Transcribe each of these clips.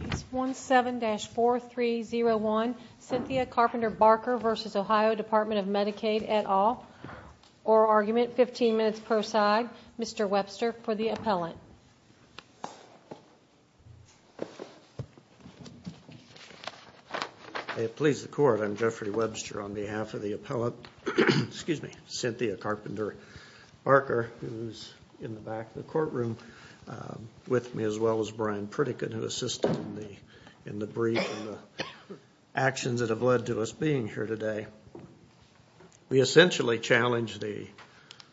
Case 17-4301, Cynthia Carpenter-Barker v. Ohio Department of Medicaid et al. Oral Argument, 15 minutes per side. Mr. Webster for the appellant. May it please the Court, I'm Jeffrey Webster on behalf of the appellant, Cynthia Carpenter-Barker, who's in the back of the courtroom with me, as well as Brian Pritikin who assisted in the brief and the actions that have led to us being here today. We essentially challenge the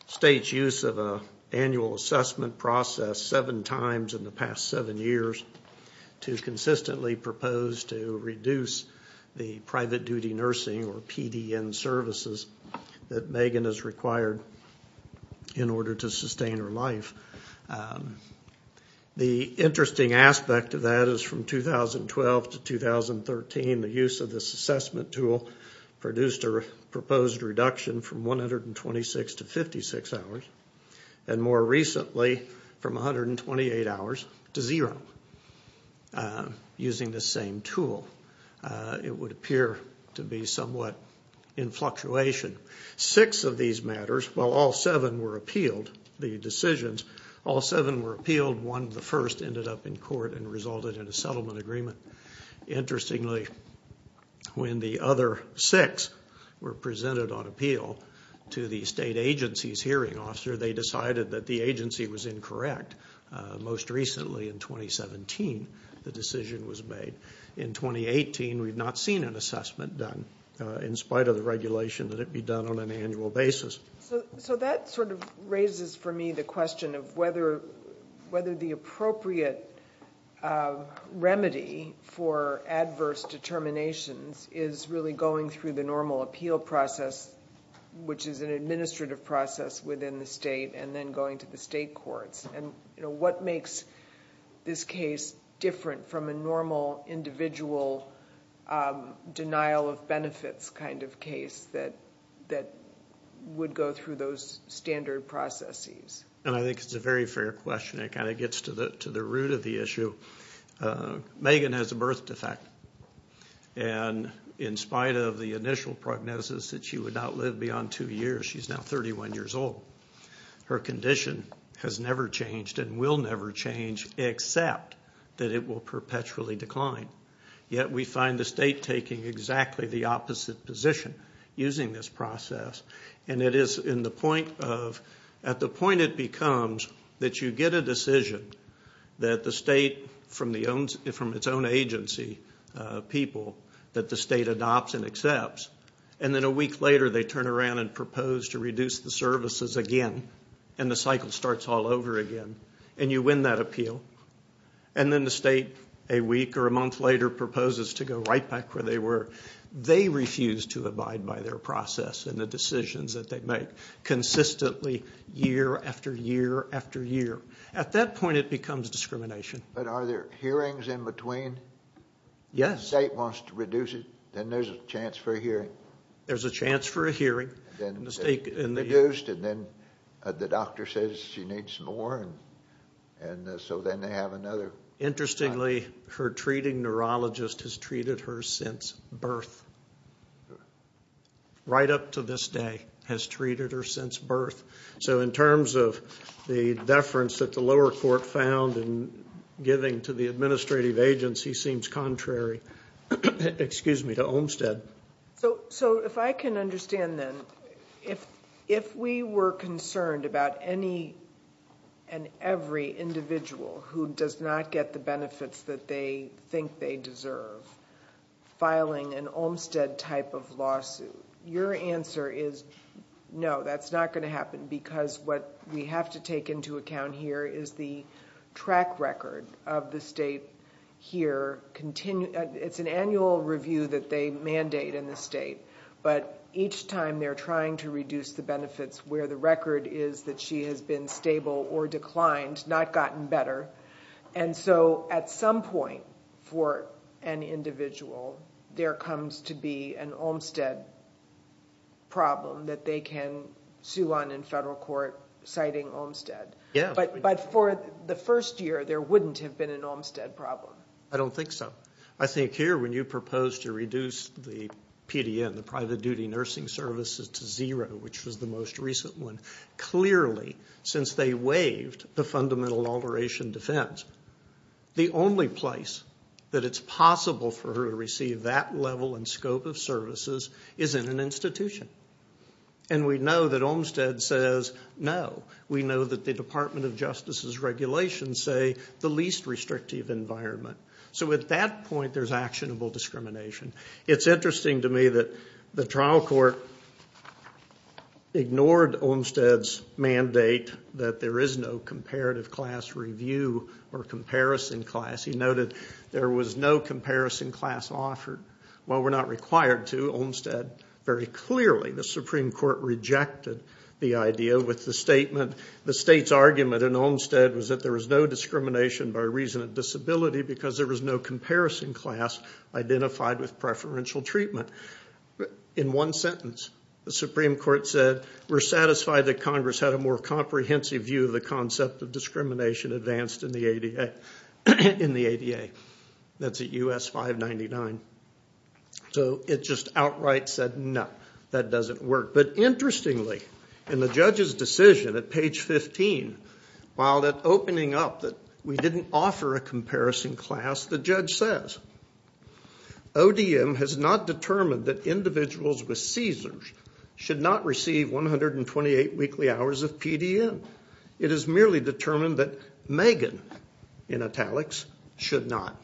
state's use of an annual assessment process seven times in the past seven years to consistently propose to reduce the private duty nursing or PDN services that Megan has required in order to sustain her life. The interesting aspect of that is from 2012 to 2013, the use of this assessment tool produced a proposed reduction from 126 to 56 hours, and more recently from 128 hours to zero using the same tool. It would appear to be somewhat in fluctuation. Six of these matters, while all seven were appealed, the decisions, all seven were appealed, one of the first ended up in court and resulted in a settlement agreement. Interestingly, when the other six were presented on appeal to the state agency's hearing officer, they decided that the agency was incorrect. Most recently, in 2017, the decision was made. In 2018, we've not seen an assessment done in spite of the regulation that it be done on an annual basis. So that sort of raises for me the question of whether the appropriate remedy for adverse determinations is really going through the normal appeal process, which is an administrative process within the state, and then going to the state courts. What makes this case different from a normal individual denial of benefits kind of case that would go through those standard processes? I think it's a very fair question. It kind of gets to the root of the issue. Megan has a birth defect, and in spite of the initial prognosis that she would not live beyond two years, she's now 31 years old. Her condition has never changed and will never change except that it will perpetually decline. Yet we find the state taking exactly the opposite position using this process. At the point it becomes that you get a decision that the state, from its own agency people, that the state adopts and accepts, and then a week later they turn around and propose to reduce the services again, and the cycle starts all over again, and you win that appeal. And then the state a week or a month later proposes to go right back where they were. They refuse to abide by their process and the decisions that they make consistently year after year after year. At that point it becomes discrimination. But are there hearings in between? Yes. If the state wants to reduce it, then there's a chance for a hearing? There's a chance for a hearing. And then the doctor says she needs more, and so then they have another. Interestingly, her treating neurologist has treated her since birth. Right up to this day has treated her since birth. So in terms of the deference that the lower court found in giving to the administrative agency seems contrary to Olmstead. So if I can understand, then, if we were concerned about any and every individual who does not get the benefits that they think they deserve filing an Olmstead type of lawsuit, your answer is no, that's not going to happen because what we have to take into account here is the track record of the state here. It's an annual review that they mandate in the state, but each time they're trying to reduce the benefits where the record is that she has been stable or declined, not gotten better. And so at some point for an individual, there comes to be an Olmstead problem that they can sue on in federal court citing Olmstead. But for the first year, there wouldn't have been an Olmstead problem. I don't think so. I think here when you propose to reduce the PDN, the private duty nursing services, to zero, which was the most recent one, clearly since they waived the fundamental alteration defense, the only place that it's possible for her to receive that level and scope of services is in an institution. And we know that Olmstead says no. We know that the Department of Justice's regulations say the least restrictive environment. So at that point, there's actionable discrimination. It's interesting to me that the trial court ignored Olmstead's mandate that there is no comparative class review or comparison class. He noted there was no comparison class offered. While we're not required to, Olmstead very clearly, the Supreme Court rejected the idea with the statement, the state's argument in Olmstead was that there was no discrimination by reason of disability because there was no comparison class identified with preferential treatment. In one sentence, the Supreme Court said, we're satisfied that Congress had a more comprehensive view of the concept of discrimination advanced in the ADA. That's at U.S. 599. So it just outright said, no, that doesn't work. But interestingly, in the judge's decision at page 15, while opening up that we didn't offer a comparison class, the judge says, ODM has not determined that individuals with seizures should not receive 128 weekly hours of PDM. It has merely determined that Megan, in italics, should not.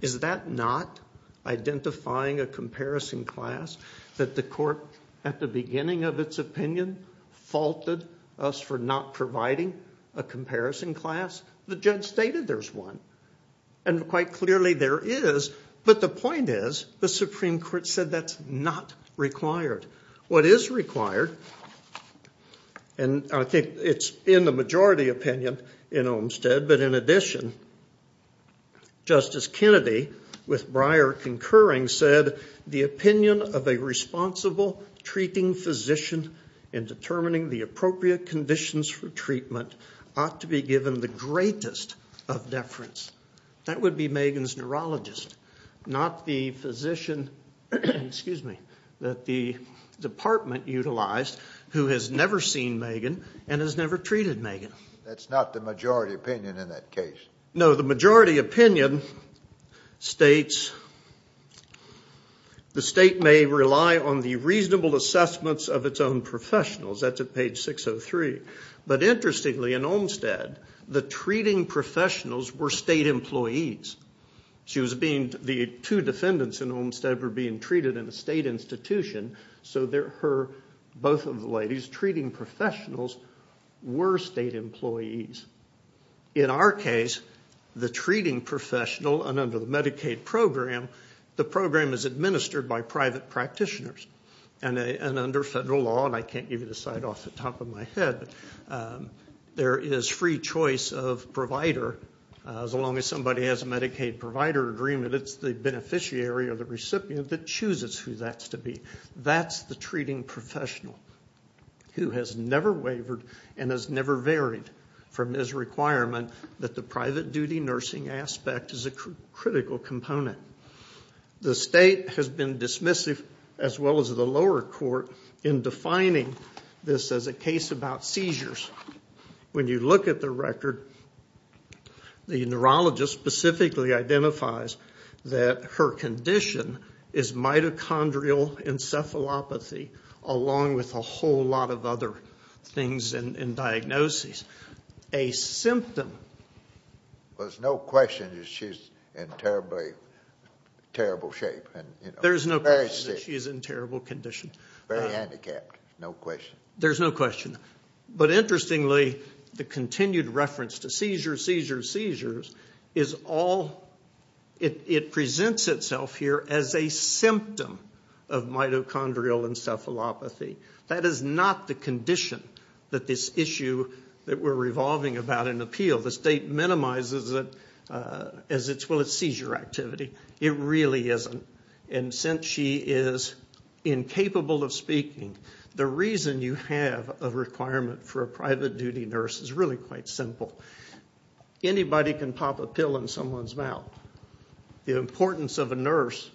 Is that not identifying a comparison class that the court, at the beginning of its opinion, faulted us for not providing a comparison class? The judge stated there's one. And quite clearly, there is. But the point is, the Supreme Court said that's not required. What is required, and I think it's in the majority opinion in Olmstead, but in addition, Justice Kennedy, with Breyer concurring, said the opinion of a responsible treating physician in determining the appropriate conditions for treatment ought to be given the greatest of deference. That would be Megan's neurologist, not the physician, excuse me, that the department utilized, who has never seen Megan and has never treated Megan. That's not the majority opinion in that case. No, the majority opinion states, the state may rely on the reasonable assessments of its own professionals. That's at page 603. But interestingly, in Olmstead, the treating professionals were state employees. The two defendants in Olmstead were being treated in a state institution, so both of the ladies, treating professionals, were state employees. In our case, the treating professional, and under the Medicaid program, the program is administered by private practitioners. And under federal law, and I can't give you the site off the top of my head, there is free choice of provider. As long as somebody has a Medicaid provider agreement, it's the beneficiary or the recipient that chooses who that's to be. That's the treating professional who has never wavered and has never varied from his requirement that the private duty nursing aspect is a critical component. The state has been dismissive, as well as the lower court, in defining this as a case about seizures. When you look at the record, the neurologist specifically identifies that her condition is mitochondrial encephalopathy, along with a whole lot of other things and diagnoses. A symptom... There's no question that she's in terrible shape. There's no question that she's in terrible condition. Very handicapped, no question. There's no question. But interestingly, the continued reference to seizures, seizures, seizures, it presents itself here as a symptom of mitochondrial encephalopathy. That is not the condition that this issue that we're revolving about in appeal. The state minimizes it as, well, it's seizure activity. It really isn't. Since she is incapable of speaking, the reason you have a requirement for a private duty nurse is really quite simple. Anybody can pop a pill in someone's mouth. The importance of a nurse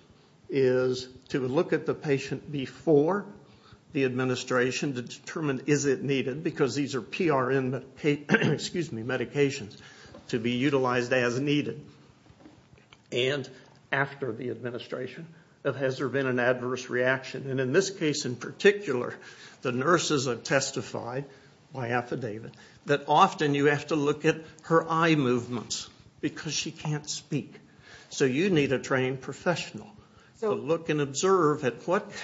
is to look at the patient before the administration to determine is it needed, because these are PRN medications, to be utilized as needed. And after the administration, has there been an adverse reaction? In this case in particular, the nurses have testified by affidavit that often you have to look at her eye movements because she can't speak. So you need a trained professional to look and observe at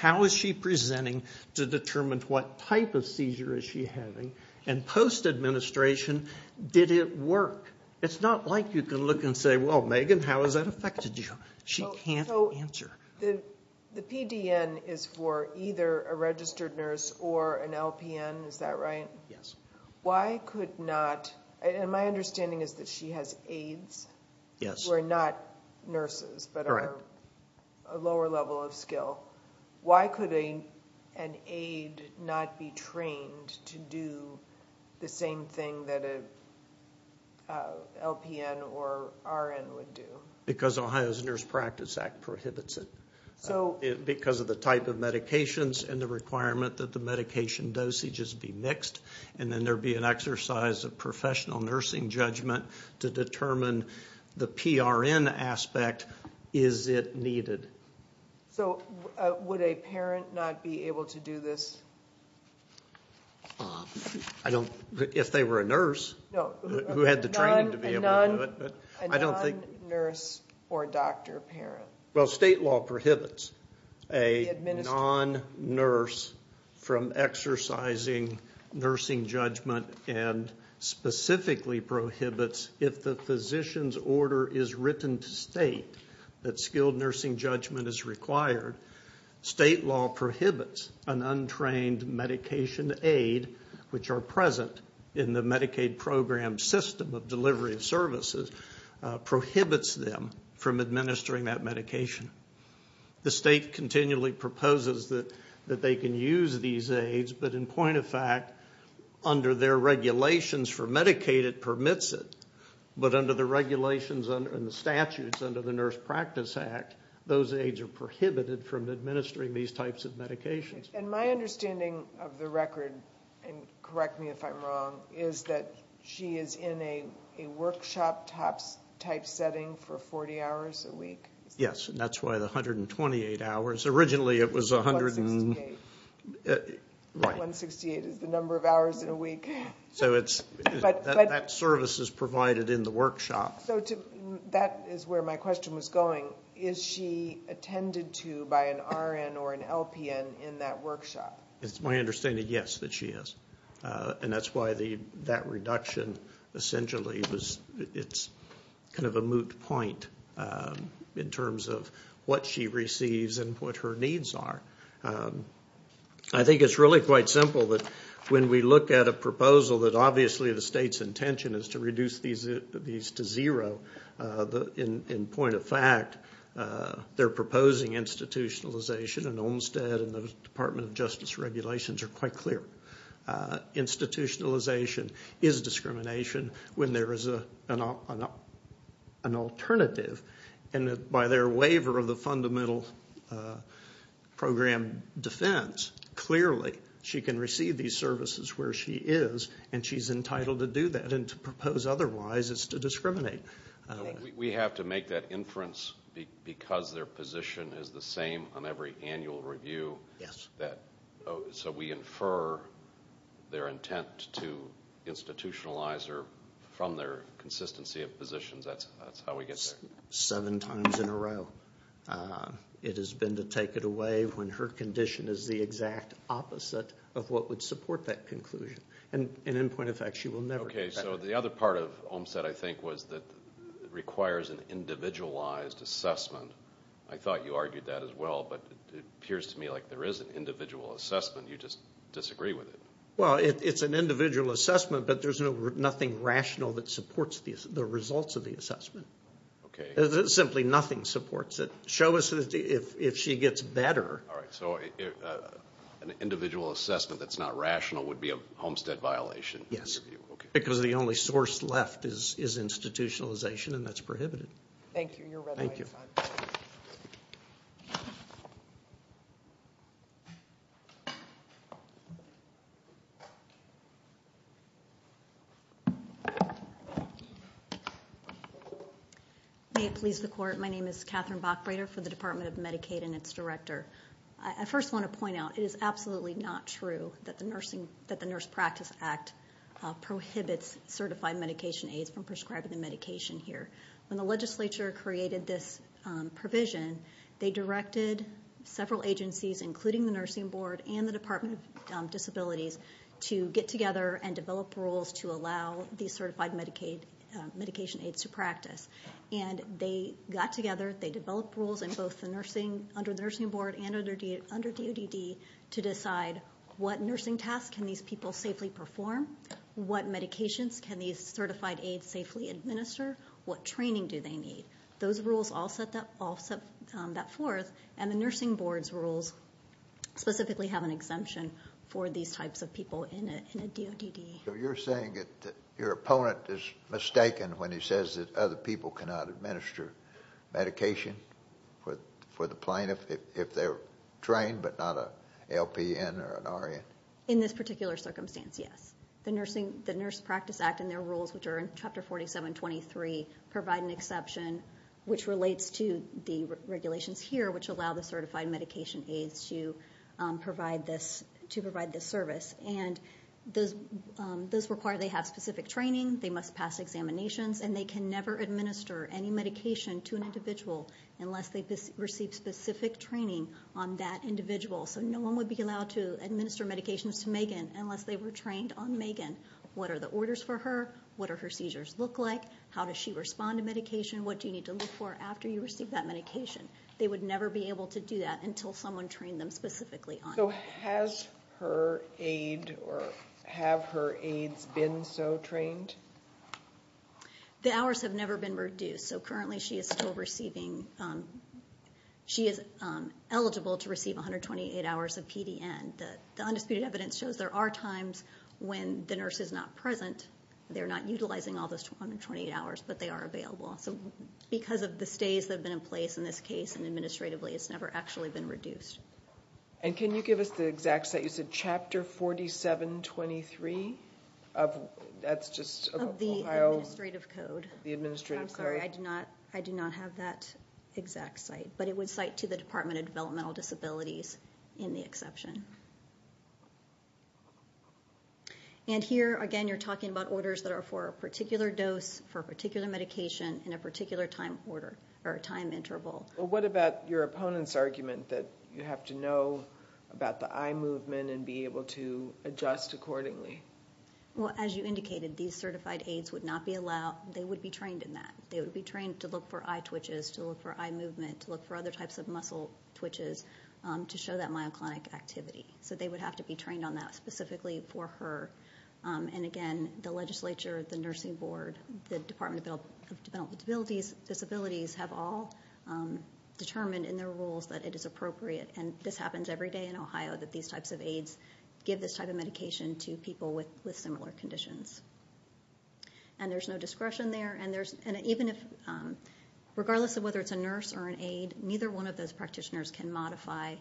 how is she presenting to determine what type of seizure is she having. And post-administration, did it work? It's not like you can look and say, well, Megan, how has that affected you? She can't answer. The PDN is for either a registered nurse or an LPN, is that right? Yes. Why could not ñ and my understanding is that she has aides who are not nurses but are a lower level of skill. Why could an aide not be trained to do the same thing that an LPN or RN would do? Because Ohio's Nurse Practice Act prohibits it. Because of the type of medications and the requirement that the medication dosages be mixed, and then there would be an exercise of professional nursing judgment to determine the PRN aspect, is it needed? So would a parent not be able to do this? I don't ñ if they were a nurse who had the training to be able to do it. A non-nurse or doctor parent. Well, state law prohibits a non-nurse from exercising nursing judgment and specifically prohibits if the physician's order is written to state that skilled nursing judgment is required, state law prohibits an untrained medication aide, which are present in the Medicaid program system of delivery of services, prohibits them from administering that medication. The state continually proposes that they can use these aides, but in point of fact, under their regulations for Medicaid it permits it, but under the regulations and the statutes under the Nurse Practice Act, those aides are prohibited from administering these types of medications. And my understanding of the record, and correct me if I'm wrong, is that she is in a workshop-type setting for 40 hours a week? Yes, and that's why the 128 hours ñ originally it was a hundred and ñ 168. Right. 168 is the number of hours in a week. So it's ñ that service is provided in the workshop. So that is where my question was going. Is she attended to by an RN or an LPN in that workshop? It's my understanding, yes, that she is. And that's why that reduction essentially was ñ it's kind of a moot point in terms of what she receives and what her needs are. I think it's really quite simple that when we look at a proposal that obviously the state's intention is to reduce these to zero, in point of fact, they're proposing institutionalization, and Olmstead and the Department of Justice regulations are quite clear. Institutionalization is discrimination when there is an alternative, and by their waiver of the fundamental program defense, clearly she can receive these services where she is, and she's entitled to do that. And to propose otherwise is to discriminate. We have to make that inference because their position is the same on every annual review. Yes. So we infer their intent to institutionalize her from their consistency of positions. That's how we get there. Seven times in a row it has been to take it away when her condition is the exact opposite of what would support that conclusion. And in point of fact, she will never get better. Okay, so the other part of Olmstead, I think, was that it requires an individualized assessment. I thought you argued that as well, but it appears to me like there is an individual assessment. You just disagree with it. Well, it's an individual assessment, but there's nothing rational that supports the results of the assessment. Okay. Simply nothing supports it. Show us if she gets better. All right. So an individual assessment that's not rational would be a Olmstead violation? Yes. Okay. Because the only source left is institutionalization, and that's prohibited. Thank you. Thank you. May it please the Court, my name is Catherine Bockbrader for the Department of Medicaid and its director. I first want to point out it is absolutely not true that the Nurse Practice Act prohibits certified medication aids from prescribing the medication here. When the legislature created this provision, they directed several agencies, including the Nursing Board and the Department of Disabilities, to get together and develop rules to allow these certified medication aids to practice. And they got together, they developed rules in both under the Nursing Board and under DODD to decide what nursing tasks can these people safely perform, what medications can these certified aids safely administer, what training do they need. Those rules all set that forth, and the Nursing Board's rules specifically have an exemption for these types of people in a DODD. So you're saying that your opponent is mistaken when he says that other people cannot administer medication for the plaintiff if they're trained but not an LPN or an RN? In this particular circumstance, yes. The Nurse Practice Act and their rules, which are in Chapter 4723, provide an exception which relates to the regulations here which allow the certified medication aids to provide this service. And those require they have specific training, they must pass examinations, and they can never administer any medication to an individual unless they receive specific training on that individual. So no one would be allowed to administer medications to Megan unless they were trained on Megan. What are the orders for her? What do her seizures look like? How does she respond to medication? What do you need to look for after you receive that medication? They would never be able to do that until someone trained them specifically on it. So has her aid or have her aids been so trained? The hours have never been reduced. So currently she is eligible to receive 128 hours of PDN. The undisputed evidence shows there are times when the nurse is not present. They're not utilizing all those 128 hours, but they are available. So because of the stays that have been in place in this case and administratively, it's never actually been reduced. And can you give us the exact set? You said Chapter 4723? Of the administrative code. The administrative code. I'm sorry, I do not have that exact site. But it would cite to the Department of Developmental Disabilities in the exception. And here, again, you're talking about orders that are for a particular dose, for a particular medication, in a particular time order or time interval. What about your opponent's argument that you have to know about the eye movement and be able to adjust accordingly? Well, as you indicated, these certified aids would not be allowed. They would be trained in that. They would be trained to look for eye twitches, to look for eye movement, to look for other types of muscle twitches to show that myoclonic activity. So they would have to be trained on that specifically for her. And, again, the legislature, the nursing board, the Department of Developmental Disabilities have all determined in their rules that it is appropriate, and this happens every day in Ohio, that these types of aids give this type of medication to people with similar conditions. And there's no discretion there. And regardless of whether it's a nurse or an aid, neither one of those practitioners can modify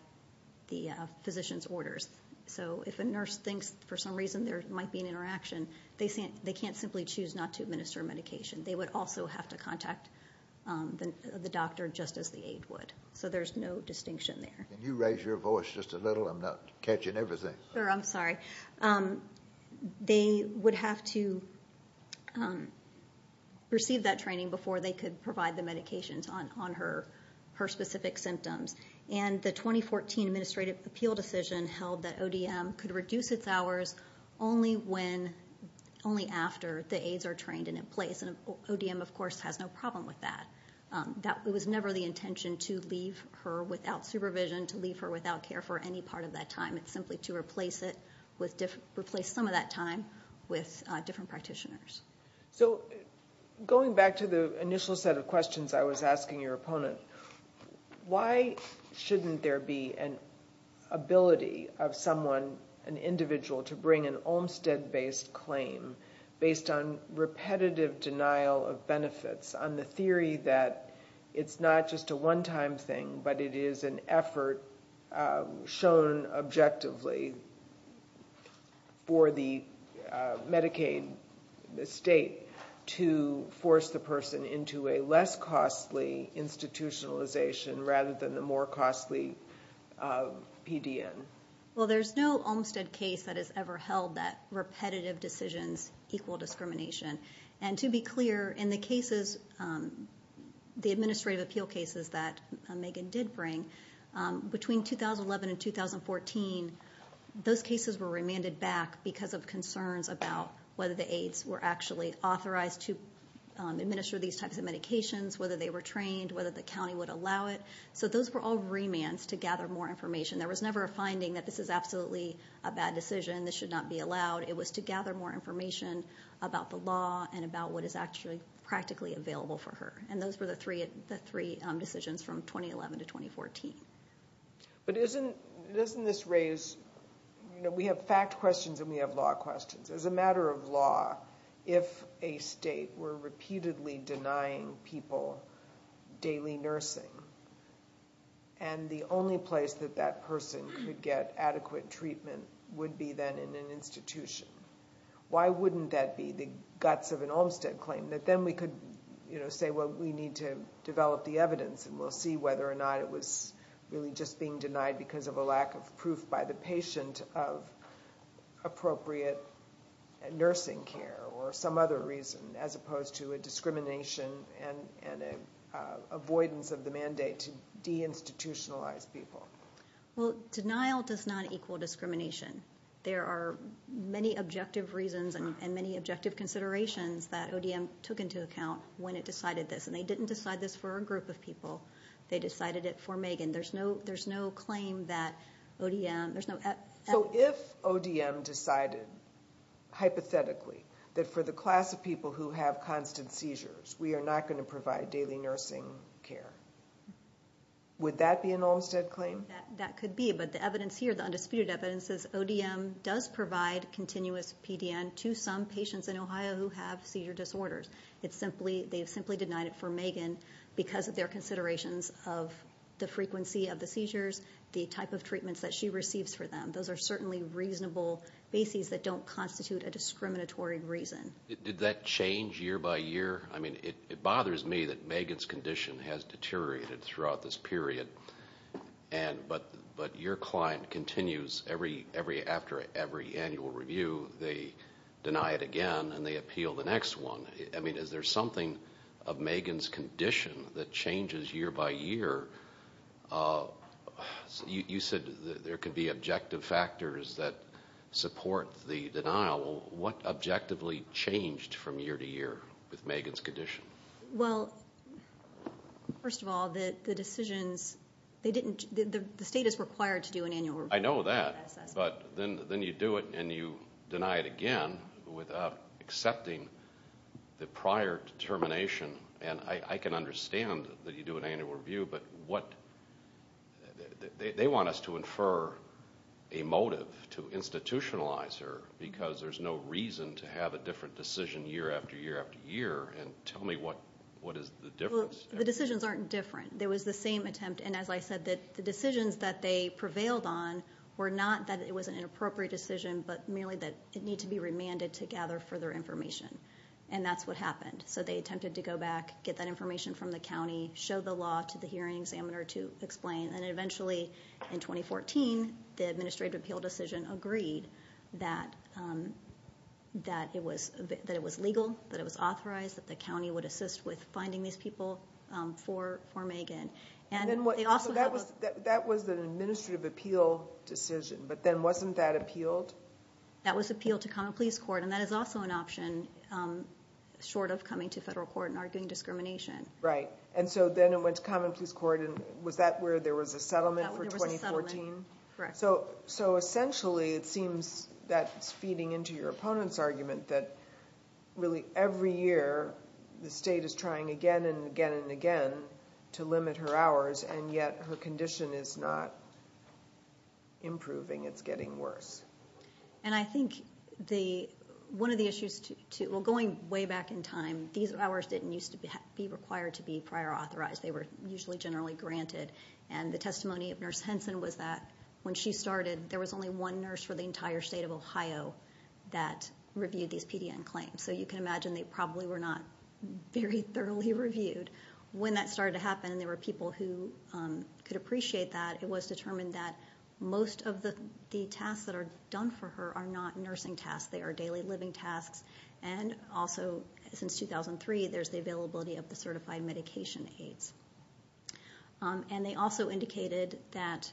the physician's orders. So if a nurse thinks for some reason there might be an interaction, they can't simply choose not to administer medication. They would also have to contact the doctor just as the aid would. So there's no distinction there. Can you raise your voice just a little? I'm not catching everything. I'm sorry. They would have to receive that training before they could provide the medications on her specific symptoms. And the 2014 Administrative Appeal Decision held that ODM could reduce its hours only after the aids are trained and in place. And ODM, of course, has no problem with that. It was never the intention to leave her without supervision, to leave her without care for any part of that time. It's simply to replace some of that time with different practitioners. So going back to the initial set of questions I was asking your opponent, why shouldn't there be an ability of someone, an individual, to bring an Olmstead-based claim based on repetitive denial of benefits, on the theory that it's not just a one-time thing, but it is an effort shown objectively for the Medicaid state to force the person into a less costly institutionalization rather than the more costly PDN? Well, there's no Olmstead case that has ever held that repetitive decisions equal discrimination. And to be clear, in the cases, the administrative appeal cases that Megan did bring, between 2011 and 2014, those cases were remanded back because of concerns about whether the aids were actually authorized to administer these types of medications, whether they were trained, whether the county would allow it. So those were all remands to gather more information. There was never a finding that this is absolutely a bad decision, this should not be allowed. It was to gather more information about the law and about what is actually practically available for her. And those were the three decisions from 2011 to 2014. But doesn't this raise, you know, we have fact questions and we have law questions. As a matter of law, if a state were repeatedly denying people daily nursing, and the only place that that person could get adequate treatment would be then in an institution, why wouldn't that be the guts of an Olmstead claim? That then we could, you know, say, well, we need to develop the evidence and we'll see whether or not it was really just being denied because of a lack of proof by the patient of appropriate nursing care or some other reason, as opposed to a discrimination and an avoidance of the mandate to deinstitutionalize people. Well, denial does not equal discrimination. There are many objective reasons and many objective considerations that ODM took into account when it decided this. And they didn't decide this for a group of people. They decided it for Megan. There's no claim that ODM, there's no... So if ODM decided hypothetically that for the class of people who have constant seizures, we are not going to provide daily nursing care, would that be an Olmstead claim? That could be, but the evidence here, the undisputed evidence, is ODM does provide continuous PDN to some patients in Ohio who have seizure disorders. It's simply, they've simply denied it for Megan because of their considerations of the frequency of the seizures, the type of treatments that she receives for them. Those are certainly reasonable bases that don't constitute a discriminatory reason. Did that change year by year? I mean, it bothers me that Megan's condition has deteriorated throughout this period, but your client continues after every annual review. They deny it again, and they appeal the next one. I mean, is there something of Megan's condition that changes year by year? You said there could be objective factors that support the denial. What objectively changed from year to year with Megan's condition? Well, first of all, the decisions, the state is required to do an annual review. I know that, but then you do it and you deny it again without accepting the prior determination. I can understand that you do an annual review, but they want us to infer a motive to institutionalize her because there's no reason to have a different decision year after year after year. Tell me, what is the difference? Well, the decisions aren't different. It was the same attempt, and as I said, the decisions that they prevailed on were not that it was an inappropriate decision, but merely that it needed to be remanded to gather further information, and that's what happened. So they attempted to go back, get that information from the county, show the law to the hearing examiner to explain, and eventually in 2014 the administrative appeal decision agreed that it was legal, that it was authorized, that the county would assist with finding these people for Megan. So that was an administrative appeal decision, but then wasn't that appealed? That was appealed to common pleas court, and that is also an option short of coming to federal court and arguing discrimination. Right, and so then it went to common pleas court, and was that where there was a settlement for 2014? There was a settlement, correct. So essentially it seems that's feeding into your opponent's argument that really every year the state is trying again and again and again to limit her hours, and yet her condition is not improving. It's getting worse. And I think one of the issues, well, going way back in time, these hours didn't used to be required to be prior authorized. They were usually generally granted, and the testimony of Nurse Henson was that when she started there was only one nurse for the entire state of Ohio that reviewed these PDN claims. So you can imagine they probably were not very thoroughly reviewed. When that started to happen and there were people who could appreciate that, it was determined that most of the tasks that are done for her are not nursing tasks, they are daily living tasks, and also since 2003 there's the availability of the certified medication aids. And they also indicated that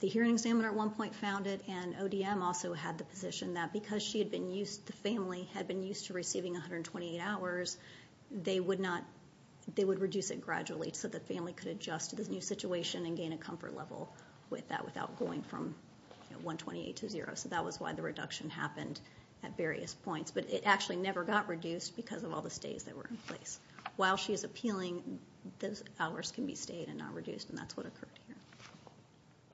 the hearing examiner at one point found it, and ODM also had the position that because the family had been used to receiving 128 hours, they would reduce it gradually so the family could adjust to this new situation and gain a comfort level with that without going from 128 to zero. So that was why the reduction happened at various points. But it actually never got reduced because of all the stays that were in place. While she is appealing, those hours can be stayed and not reduced, and that's what occurred here.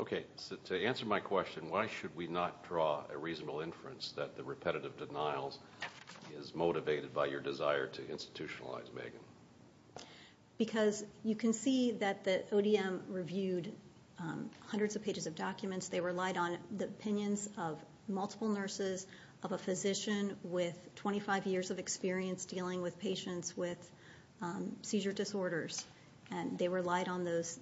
Okay, so to answer my question, why should we not draw a reasonable inference that the repetitive denial is motivated by your desire to institutionalize Megan? Because you can see that ODM reviewed hundreds of pages of documents. They relied on the opinions of multiple nurses, of a physician with 25 years of experience dealing with patients with seizure disorders, and they relied on those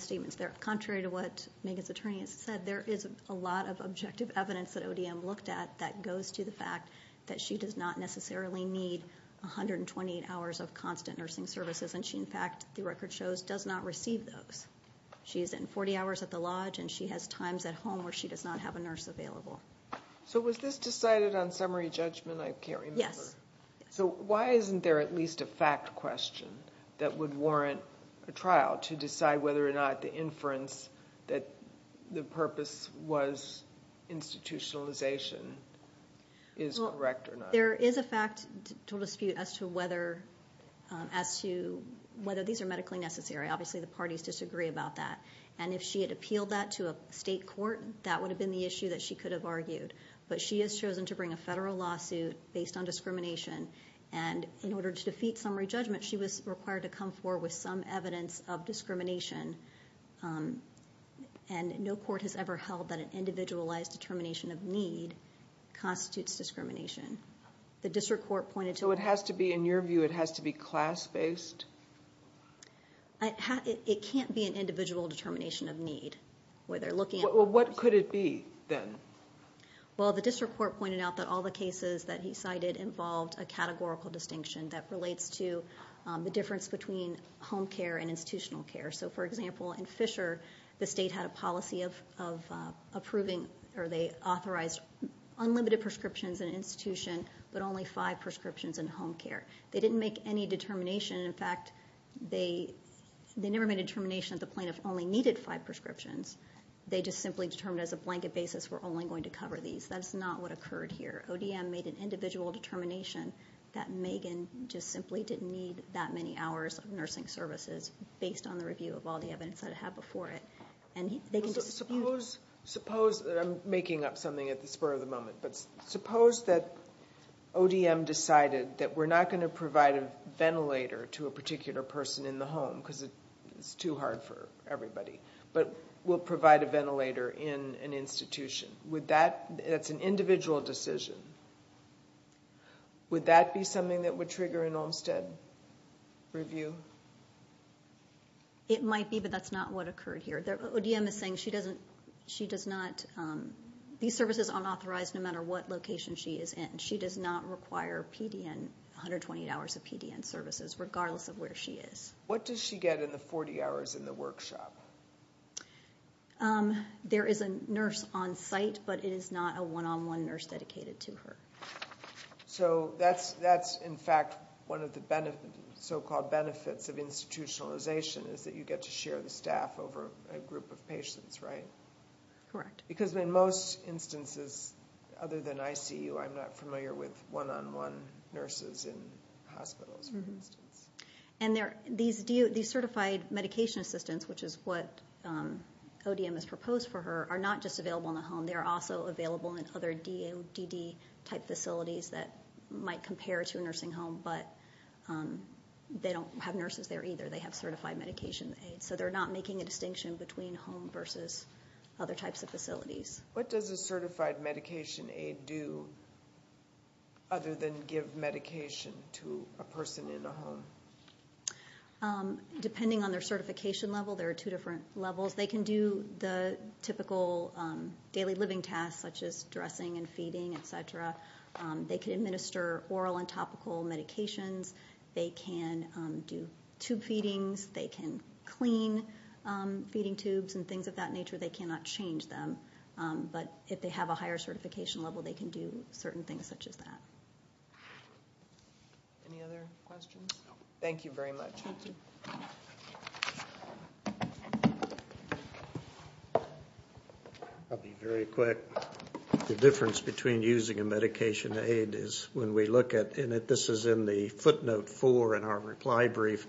statements. Contrary to what Megan's attorney has said, there is a lot of objective evidence that ODM looked at that goes to the fact that she does not necessarily need 128 hours of constant nursing services, and she in fact, the record shows, does not receive those. She is in 40 hours at the lodge, and she has times at home where she does not have a nurse available. So was this decided on summary judgment? I can't remember. Yes. So why isn't there at least a fact question that would warrant a trial to decide whether or not the inference that the purpose was institutionalization is correct or not? There is a fact to dispute as to whether these are medically necessary. Obviously the parties disagree about that. And if she had appealed that to a state court, that would have been the issue that she could have argued. But she has chosen to bring a federal lawsuit based on discrimination, and in order to defeat summary judgment, she was required to come forward with some evidence of discrimination. And no court has ever held that an individualized determination of need constitutes discrimination. The district court pointed to it. So it has to be, in your view, it has to be class-based? It can't be an individual determination of need. Well, what could it be then? Well, the district court pointed out that all the cases that he cited involved a categorical distinction that relates to the difference between home care and institutional care. So, for example, in Fisher, the state had a policy of approving or they authorized unlimited prescriptions in institution but only five prescriptions in home care. They didn't make any determination. In fact, they never made a determination that the plaintiff only needed five prescriptions. They just simply determined as a blanket basis we're only going to cover these. That's not what occurred here. ODM made an individual determination that Megan just simply didn't need that many hours of nursing services based on the review of all the evidence that it had before it. Suppose, I'm making up something at the spur of the moment, but suppose that ODM decided that we're not going to provide a ventilator to a particular person in the home because it's too hard for everybody but we'll provide a ventilator in an institution. That's an individual decision. Would that be something that would trigger an Olmstead review? It might be, but that's not what occurred here. ODM is saying these services aren't authorized no matter what location she is in. She does not require PDN, 128 hours of PDN services, regardless of where she is. What does she get in the 40 hours in the workshop? There is a nurse on site, but it is not a one-on-one nurse dedicated to her. That's, in fact, one of the so-called benefits of institutionalization is that you get to share the staff over a group of patients, right? Correct. Because in most instances other than ICU, I'm not familiar with one-on-one nurses in hospitals, for instance. These certified medication assistants, which is what ODM has proposed for her, are not just available in the home. They are also available in other DODD-type facilities that might compare to a nursing home, but they don't have nurses there either. They have certified medication aides, so they're not making a distinction between home versus other types of facilities. What does a certified medication aide do other than give medication to a person in a home? Depending on their certification level, there are two different levels. They can do the typical daily living tasks, such as dressing and feeding, et cetera. They can administer oral and topical medications. They can do tube feedings. They can clean feeding tubes and things of that nature. They cannot change them. But if they have a higher certification level, they can do certain things such as that. Any other questions? No. Thank you very much. Thank you. I'll be very quick. The difference between using a medication aide is when we look at it, and this is in the footnote 4 in our reply brief,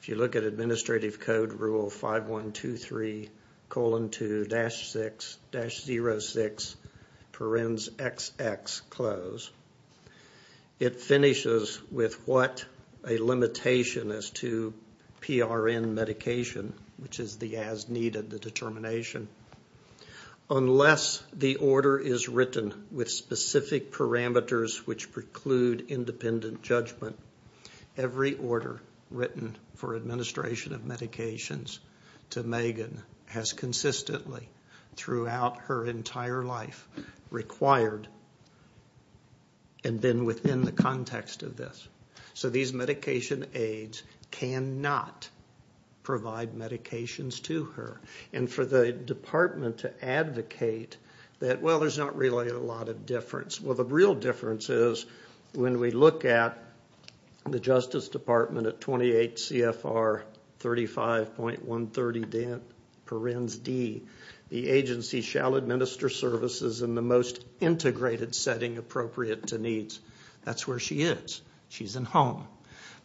if you look at Administrative Code Rule 5123, colon 2, dash 6, dash 06, parens XX, close, it finishes with what a limitation is to PRN medication, which is the as needed, the determination. Unless the order is written with specific parameters which preclude independent judgment, every order written for administration of medications to Megan has consistently, throughout her entire life, required and been within the context of this. So these medication aides cannot provide medications to her. And for the department to advocate that, well, there's not really a lot of difference. Well, the real difference is when we look at the Justice Department at 28 CFR 35.130 parens D, the agency shall administer services in the most integrated setting appropriate to needs. That's where she is. She's in home.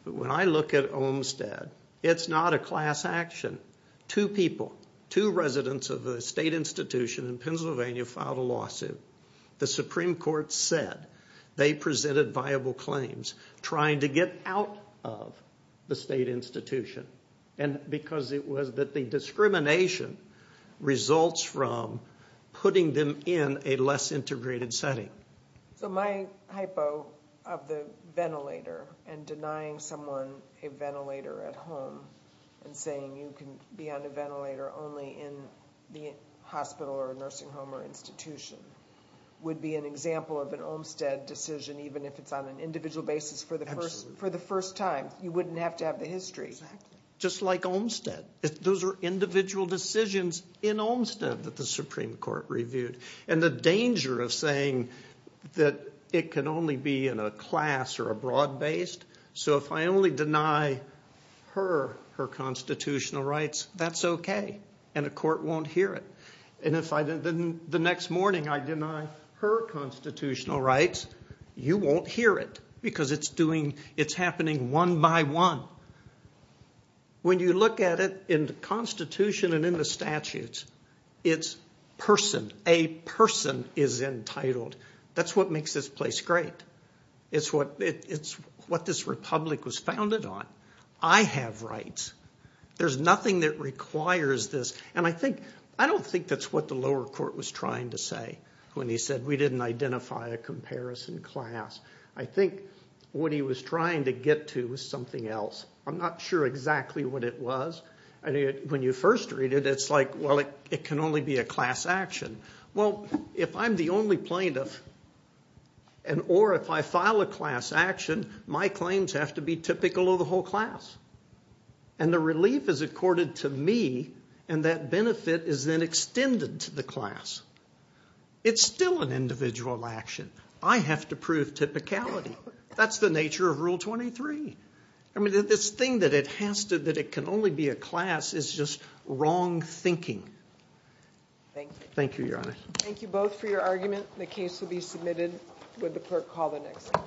But when I look at Olmstead, it's not a class action. Two people, two residents of a state institution in Pennsylvania filed a lawsuit. The Supreme Court said they presented viable claims trying to get out of the state institution because it was that the discrimination results from putting them in a less integrated setting. So my hypo of the ventilator and denying someone a ventilator at home and saying you can be on a ventilator only in the hospital or a nursing home or institution would be an example of an Olmstead decision, even if it's on an individual basis for the first time. You wouldn't have to have the history. Just like Olmstead. Those are individual decisions in Olmstead that the Supreme Court reviewed. And the danger of saying that it can only be in a class or a broad-based, so if I only deny her her constitutional rights, that's okay, and the court won't hear it. And if the next morning I deny her constitutional rights, you won't hear it because it's happening one by one. When you look at it in the Constitution and in the statutes, it's person. A person is entitled. That's what makes this place great. It's what this republic was founded on. I have rights. There's nothing that requires this. And I don't think that's what the lower court was trying to say when he said we didn't identify a comparison class. I think what he was trying to get to was something else. I'm not sure exactly what it was. When you first read it, it's like, well, it can only be a class action. Well, if I'm the only plaintiff or if I file a class action, my claims have to be typical of the whole class. And the relief is accorded to me, and that benefit is then extended to the class. It's still an individual action. I have to prove typicality. That's the nature of Rule 23. This thing that it can only be a class is just wrong thinking. Thank you, Your Honor. Thank you both for your argument. The case will be submitted when the clerk calls the next one.